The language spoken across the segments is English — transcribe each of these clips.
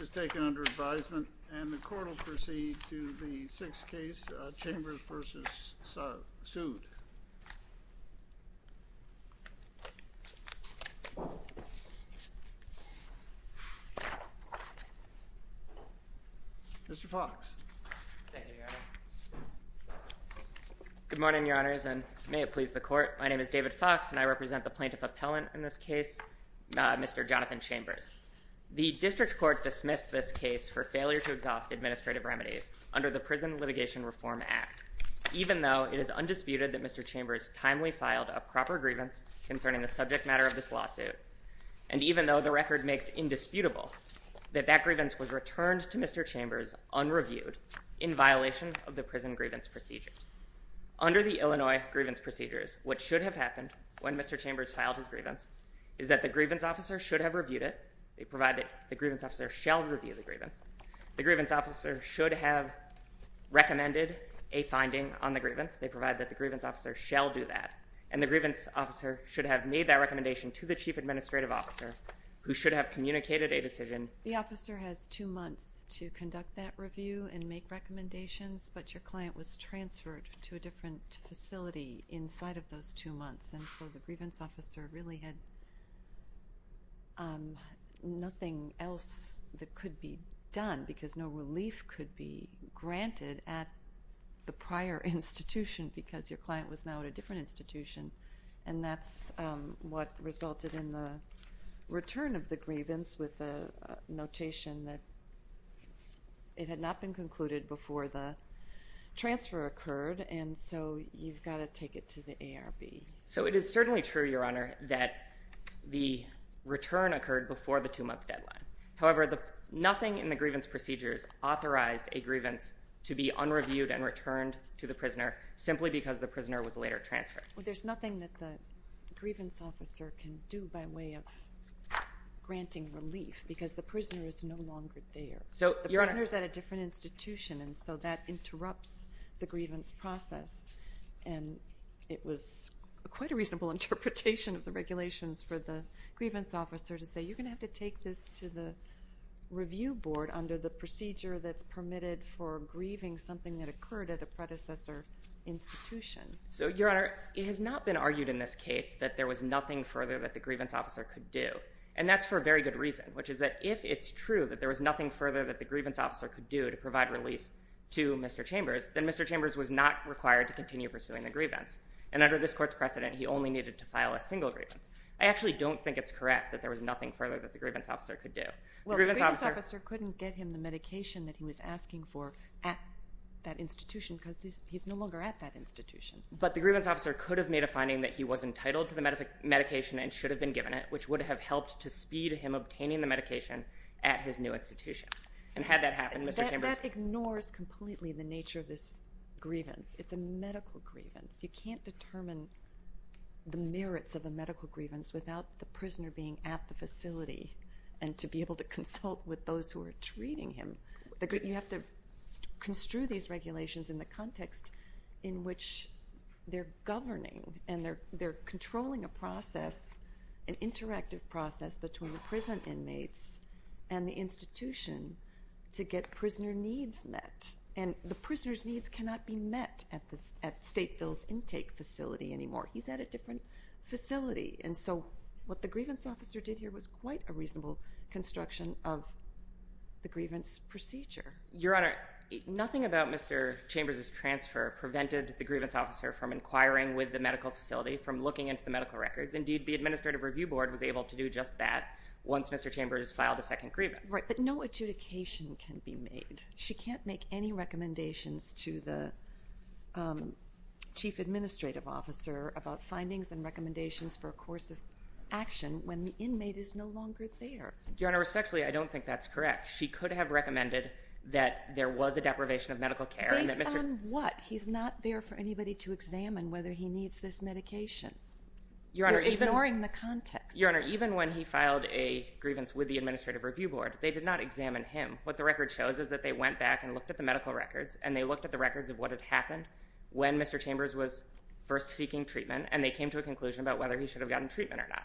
is taken under advisement, and the court will proceed to the sixth case, Chambers v. Sood. Mr. Fox. Thank you, Your Honor. Good morning, Your Honors, and may it please the court. My name is David Fox, and I represent the plaintiff appellant in this case, Mr. Jonathan Chambers. The district court dismissed this case for failure to exhaust administrative remedies under the Prison Litigation Reform Act, even though it is undisputed that Mr. Chambers timely filed a proper grievance concerning the subject matter of this lawsuit, and even though the record makes indisputable that that grievance was returned to Mr. Chambers unreviewed in violation of the prison grievance procedures. Under the Illinois grievance procedures, what should have happened when Mr. Chambers filed his grievance is that the grievance officer should have reviewed it. They provide that the grievance officer shall review the grievance. The grievance officer should have recommended a finding on the grievance. They provide that the grievance officer shall do that, and the grievance officer should have made that recommendation to the chief administrative officer, who should have communicated a decision. The officer has two months to conduct that review and make recommendations, but your client was transferred to a different facility inside of those two months, and so the grievance officer really had nothing else that could be done, because no relief could be granted at the prior institution because your client was now at a different institution, and that's what resulted in the return of the grievance with the notation that it had not been concluded before the transfer occurred, and so you've got to take it to the ARB. So it is certainly true, Your Honor, that the return occurred before the two-month deadline. However, nothing in the grievance procedures authorized a grievance to be unreviewed and returned to the prisoner, simply because the prisoner was later transferred. Well, there's nothing that the grievance officer can do by way of granting relief, because the prisoner is no longer there. So, Your Honor— The prisoner's at a different institution, and so that interrupts the grievance process, and it was quite a reasonable interpretation of the regulations for the grievance officer to say, you're going to have to take this to the review board under the procedure that's permitted for grieving something that occurred at a predecessor institution. So, Your Honor, it has not been argued in this case that there was nothing further that the grievance officer could do, and that's for a very good reason, which is that if it's true that there was nothing further that the grievance officer could do to provide relief to Mr. Chambers, then Mr. Chambers was not required to continue pursuing the grievance. And under this court's precedent, he only needed to file a single grievance. I actually don't think it's correct that there was nothing further that the grievance officer could do. Well, the grievance officer couldn't get him the medication that he was asking for at that institution, because he's no longer at that institution. But the grievance officer could have made a finding that he was entitled to the medication and should have been given it, which would have helped to speed him obtaining the medication at his new institution. And had that happened, Mr. Chambers— That ignores completely the nature of this grievance. It's a medical grievance. You can't determine the merits of a medical grievance without the prisoner being at the facility and to be able to consult with those who are treating him. You have to construe these regulations in the context in which they're governing and they're controlling a process, an interactive process, between the prison inmates and the institution to get prisoner needs met. And the prisoner's needs cannot be met at Stateville's intake facility anymore. He's at a different facility. And so what the grievance officer did here was quite a reasonable construction of the grievance procedure. Your Honor, nothing about Mr. Chambers' transfer prevented the grievance officer from inquiring with the medical facility, from looking into the medical records. Indeed, the administrative review board was able to do just that once Mr. Chambers filed a second grievance. Right, but no adjudication can be made. She can't make any recommendations to the chief administrative officer about findings and recommendations for a course of action when the inmate is no longer there. Your Honor, respectfully, I don't think that's correct. She could have recommended that there was a deprivation of medical care— Based on what? He's not there for anybody to examine whether he needs this medication. You're ignoring the context. Your Honor, even when he filed a grievance with the administrative review board, they did not examine him. What the record shows is that they went back and looked at the medical records, and they looked at the records of what had happened when Mr. Chambers was first seeking treatment, and they came to a conclusion about whether he should have gotten treatment or not.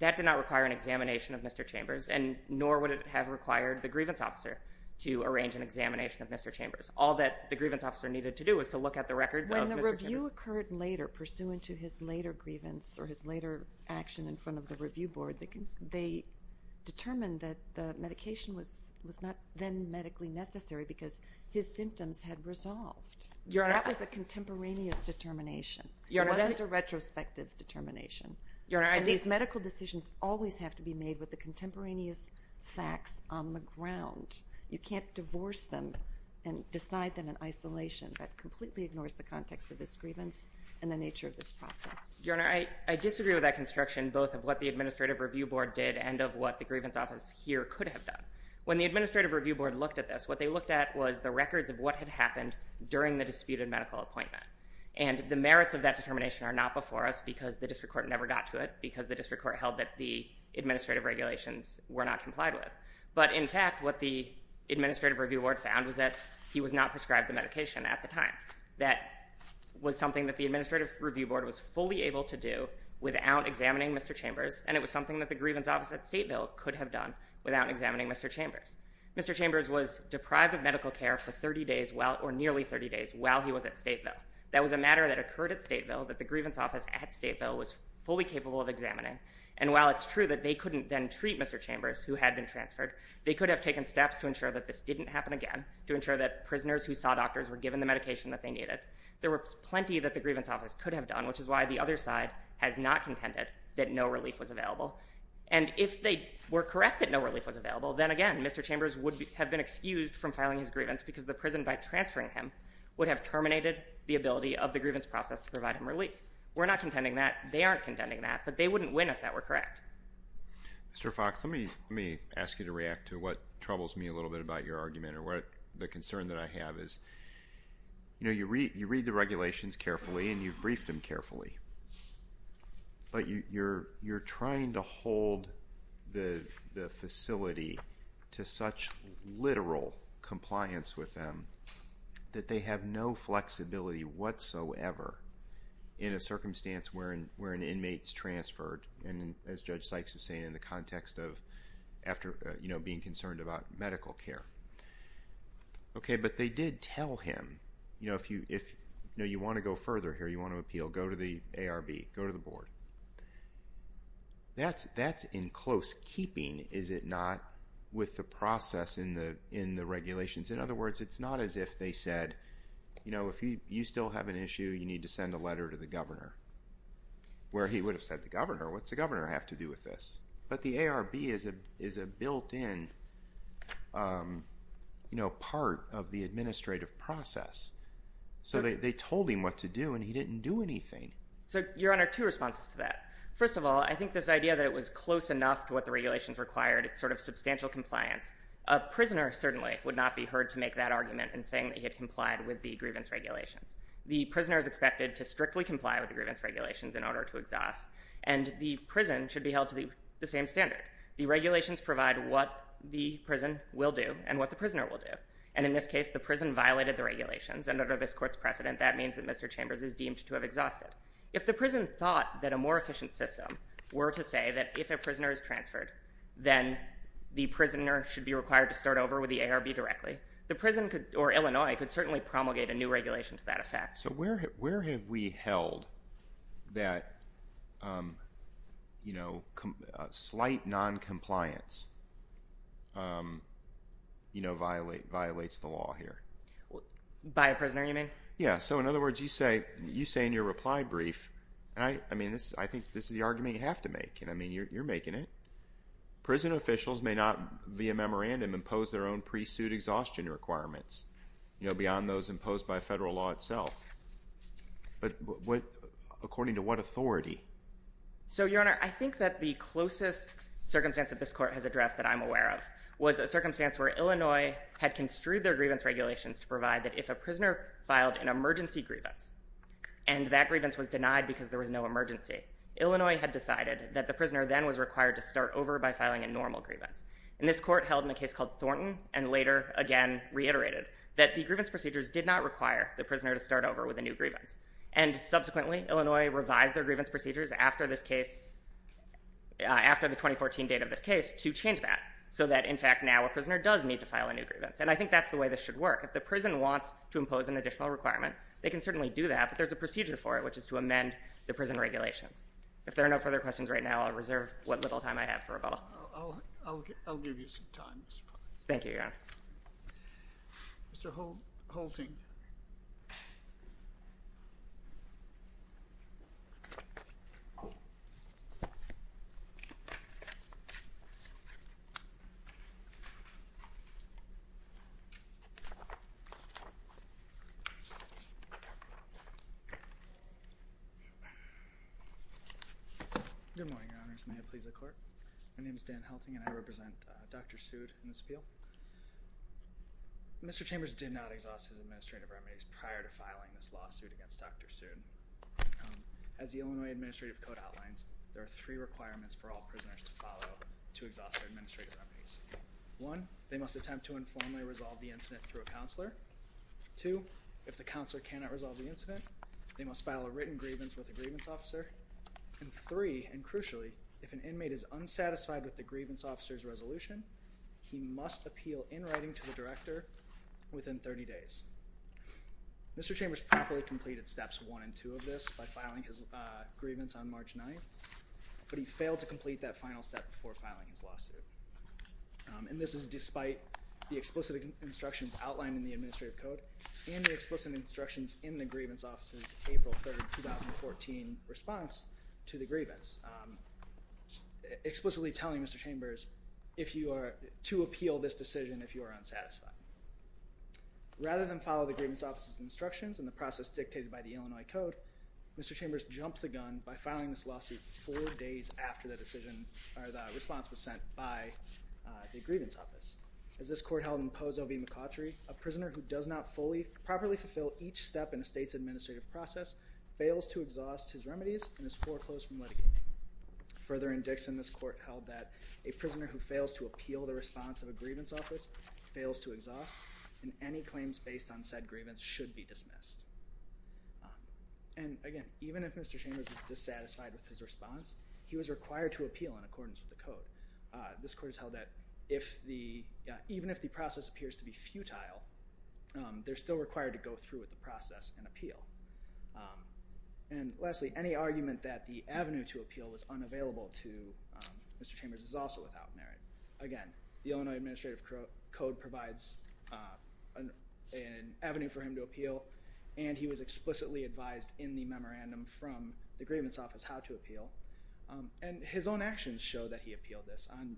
That did not require an examination of Mr. Chambers, and nor would it have required the grievance officer to arrange an examination of Mr. Chambers. All that the grievance officer needed to do was to look at the records of Mr. Chambers. When the review occurred pursuant to his later grievance or his later action in front of the review board, they determined that the medication was not then medically necessary because his symptoms had resolved. That was a contemporaneous determination. It wasn't a retrospective determination. These medical decisions always have to be made with the contemporaneous facts on the ground. You can't the context of this grievance and the nature of this process. Your Honor, I disagree with that construction, both of what the administrative review board did and of what the grievance office here could have done. When the administrative review board looked at this, what they looked at was the records of what had happened during the disputed medical appointment. And the merits of that determination are not before us because the district court never got to it, because the district court held that the administrative regulations were not complied with. But in fact, what the administrative review board found was that he was not prescribed the medication at the time. That was something that the administrative review board was fully able to do without examining Mr. Chambers, and it was something that the grievance office at Stateville could have done without examining Mr. Chambers. Mr. Chambers was deprived of medical care for 30 days or nearly 30 days while he was at Stateville. That was a matter that occurred at Stateville that the grievance office at Stateville was fully capable of examining. And while it's true that they couldn't then treat Mr. Chambers, who had been transferred, they could have taken steps to ensure that this didn't happen again, to ensure that prisoners who saw doctors were given the medication that they needed. There was plenty that the grievance office could have done, which is why the other side has not contended that no relief was available. And if they were correct that no relief was available, then again, Mr. Chambers would have been excused from filing his grievance because the prison, by transferring him, would have terminated the ability of the grievance process to provide him relief. We're not contending that. They aren't contending that. But they wouldn't win if that were correct. Mr. Fox, let me ask you to react to what troubles me a little bit about your argument, or the concern that I have is, you read the regulations carefully and you've briefed them carefully. But you're trying to hold the facility to such literal compliance with them that they have no flexibility whatsoever in a circumstance where an inmate's transferred. And as Judge Sykes is saying, in the context of being concerned about medical care. Okay, but they did tell him, you know, if you want to go further here, you want to appeal, go to the ARB, go to the board. That's in close keeping, is it not, with the process in the regulations? In other words, it's not as if they said, you know, if you still have an issue, you need to send a letter to the governor. Where he would have said, the governor? What's the governor have to do with this? But the ARB is a built-in, you know, part of the administrative process. So they told him what to do and he didn't do anything. So, Your Honor, two responses to that. First of all, I think this idea that it was close enough to what the regulations required, it's sort of substantial compliance. A prisoner certainly would not be heard to make that argument in saying that he had complied with the grievance regulations. The prisoner is expected to strictly comply with the grievance regulations in order to exhaust. And the prison should be held to the same standard. The regulations provide what the prison will do and what the prisoner will do. And in this case, the prison violated the regulations and under this court's precedent, that means that Mr. Chambers is deemed to have exhausted. If the prison thought that a more efficient system were to say that if a prisoner is transferred, then the prisoner should be required to start over with the ARB directly, the prison could, or Illinois, could certainly promulgate a new regulation to that effect. So where have we held that slight noncompliance violates the law here? By a prisoner, you mean? Yeah. So in other words, you say in your reply brief, I think this is the argument you have to make and you're making it. Prison officials may not via memorandum impose their own pre-suit exhaustion requirements beyond those imposed by federal law itself. But according to what authority? So, Your Honor, I think that the closest circumstance that this court has addressed that I'm aware of was a circumstance where Illinois had construed their grievance regulations to provide that if a prisoner filed an emergency grievance and that grievance was denied because there was no emergency, Illinois had decided that the prisoner then was required to start over by again, reiterated that the grievance procedures did not require the prisoner to start over with a new grievance. And subsequently, Illinois revised their grievance procedures after this case, after the 2014 date of this case to change that. So that in fact, now a prisoner does need to file a new grievance. And I think that's the way this should work. If the prison wants to impose an additional requirement, they can certainly do that, but there's a procedure for it, which is to amend the prison regulations. If there are no further questions right now, I'll reserve what little time I have for rebuttal. I'll give you some time. Thank you, Your Honor. Mr. Holting. Good morning, Your Honors. May it please the Court? My name is Dan Holting and I represent Dr. Sood in this appeal. Mr. Chambers did not exhaust his administrative remedies prior to filing this lawsuit against Dr. Sood. As the Illinois Administrative Code outlines, there are three requirements for all prisoners to follow to exhaust their administrative remedies. One, they must attempt to informally resolve the incident through a counselor. Two, if the counselor cannot resolve the incident, they must file a written grievance with a grievance officer. And three, and crucially, if an inmate is unsatisfied with the grievance officer's resolution, he must appeal in writing to the director within 30 days. Mr. Chambers properly completed steps one and two of this by filing his grievance on March 9th, but he failed to complete that final step before filing his lawsuit. And this is despite the explicit instructions outlined in the Administrative Code and the explicit instructions in the grievance, explicitly telling Mr. Chambers to appeal this decision if you are unsatisfied. Rather than follow the grievance officer's instructions and the process dictated by the Illinois Code, Mr. Chambers jumped the gun by filing this lawsuit four days after the decision or the response was sent by the grievance office. As this court held in Pozo v. McCautry, a prisoner who does not fully properly fulfill each step in a state's administrative process fails to exhaust his remedies and is foreclosed from litigating. Further, in Dixon, this court held that a prisoner who fails to appeal the response of a grievance office fails to exhaust and any claims based on said grievance should be dismissed. And again, even if Mr. Chambers was dissatisfied with his response, he was required to appeal in accordance with the code. This court has held that even if the process appears to be futile, they're still required to go through with the process and appeal. And lastly, any argument that the avenue to appeal was unavailable to Mr. Chambers is also without merit. Again, the Illinois Administrative Code provides an avenue for him to appeal and he was explicitly advised in the memorandum from the grievance office how to appeal and his own actions show that he appealed this. On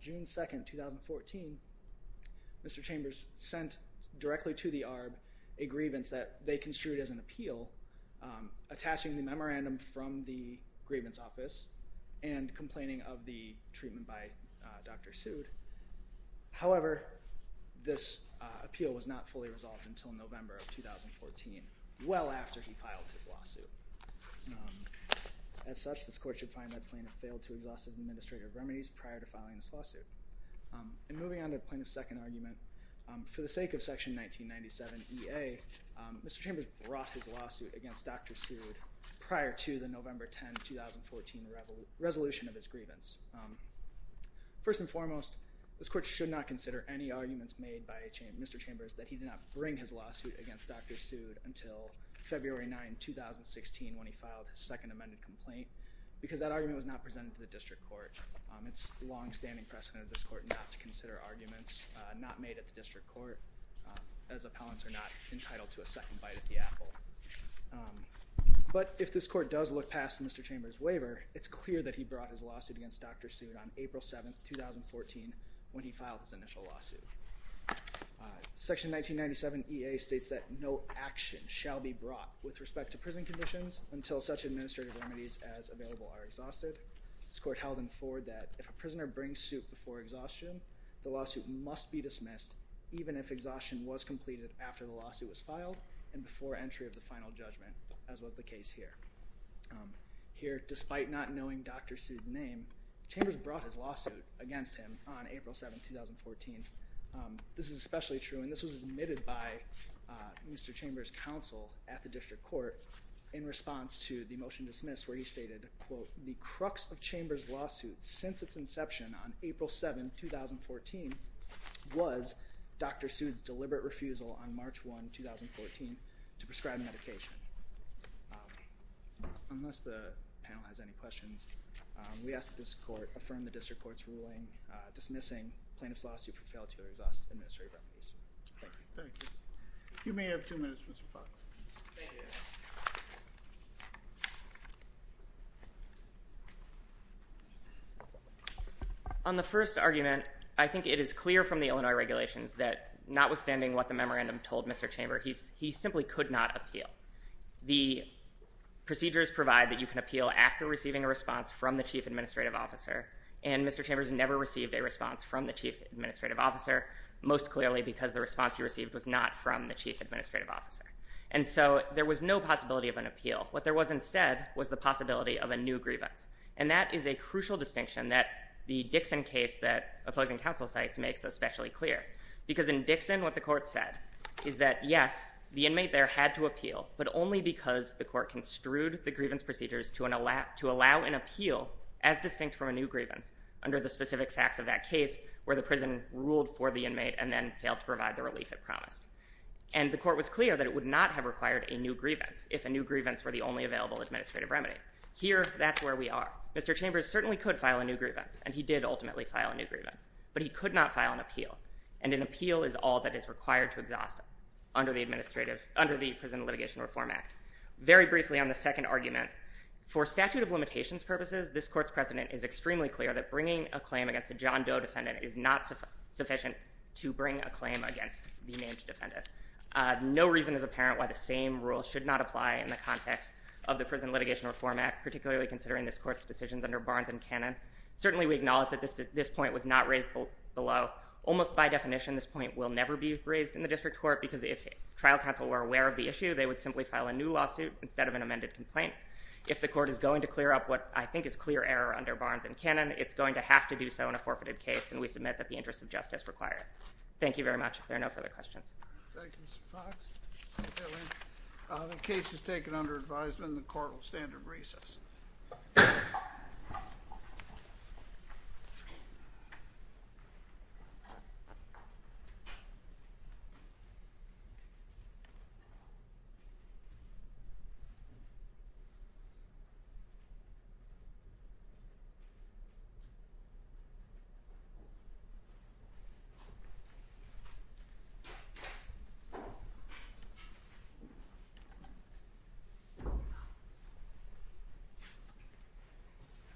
June 2, 2014, Mr. Chambers sent directly to the ARB a grievance that they construed as an appeal attaching the memorandum from the grievance office and complaining of the treatment by Dr. Seward. However, this appeal was not fully resolved until November of 2014, well after he filed his lawsuit. As such, this court should find that plaintiff failed to exhaust his administrative remedies prior to filing this lawsuit. And moving on to plaintiff's second argument, for the sake of section 1997EA, Mr. Chambers brought his lawsuit against Dr. Seward prior to the November 10, 2014 resolution of his grievance. First and foremost, this court should not consider any arguments made by Mr. Chambers that he did not bring his lawsuit against Dr. Seward until February 9, 2016 when he filed his second amended complaint because that argument was not presented to the district court. It's long-standing precedent of this court not to consider arguments not made at the district court as appellants are not entitled to a second bite at the apple. But if this court does look past Mr. Chambers' waiver, it's clear that he brought his lawsuit against Dr. Seward on April 7, 2014 when he filed his initial lawsuit. Section 1997EA states that no action shall be brought with respect to prison conditions until such administrative remedies as available are exhausted. This court held in forward that if a prisoner brings suit before exhaustion, the lawsuit must be dismissed even if exhaustion was completed after the lawsuit was filed and before entry of the final judgment, as was the case here. Here, despite not knowing Dr. Seward's name, Chambers brought his lawsuit against him on April 7, 2014. This is especially true, and this was admitted by Mr. Chambers' counsel at the district court in response to the motion dismissed where he stated, quote, the crux of Chambers' lawsuit since its inception on April 7, 2014 was Dr. Seward's deliberate refusal on March 1, 2014 to prescribe medication. Unless the panel has any questions, we ask that this court affirm the district court's ruling dismissing plaintiff's lawsuit for failure to exhaust administrative remedies. Thank you. Thank you. You may have two minutes, Mr. Fox. On the first argument, I think it is clear from the Illinois regulations that notwithstanding what the memorandum told Mr. Chambers, he simply could not appeal. The procedures provide that you can appeal after receiving a response from the chief administrative officer, and Mr. Chambers never received a response from the chief administrative officer, most clearly because the response he received was not from the chief administrative officer. And so there was no possibility of an new grievance, and that is a crucial distinction that the Dixon case that opposing counsel cites makes especially clear, because in Dixon what the court said is that, yes, the inmate there had to appeal, but only because the court construed the grievance procedures to allow an appeal as distinct from a new grievance under the specific facts of that case where the prison ruled for the inmate and then failed to provide the relief it promised. And the court was clear that it would not have required a new grievance if a new grievance were the only available administrative remedy. Here, that's where we are. Mr. Chambers certainly could file a new grievance, and he did ultimately file a new grievance, but he could not file an appeal, and an appeal is all that is required to exhaust under the prison litigation reform act. Very briefly on the second argument, for statute of limitations purposes, this court's precedent is extremely clear that bringing a claim against a John Doe defendant is not sufficient to bring a claim against the named defendant. No reason is apparent why the same rule should not apply in the context of the prison litigation reform act, particularly considering this court's decisions under Barnes and Cannon. Certainly, we acknowledge that this point was not raised below. Almost by definition, this point will never be raised in the district court, because if trial counsel were aware of the issue, they would simply file a new lawsuit instead of an amended complaint. If the court is going to clear up what I think is clear error under Barnes and Cannon, it's going to have to do so in a forfeited case, and we submit that the interests of justice require it. Thank you very much. If Mr. Fox. The case is taken under advisement. The court will stand in recess. Thank you.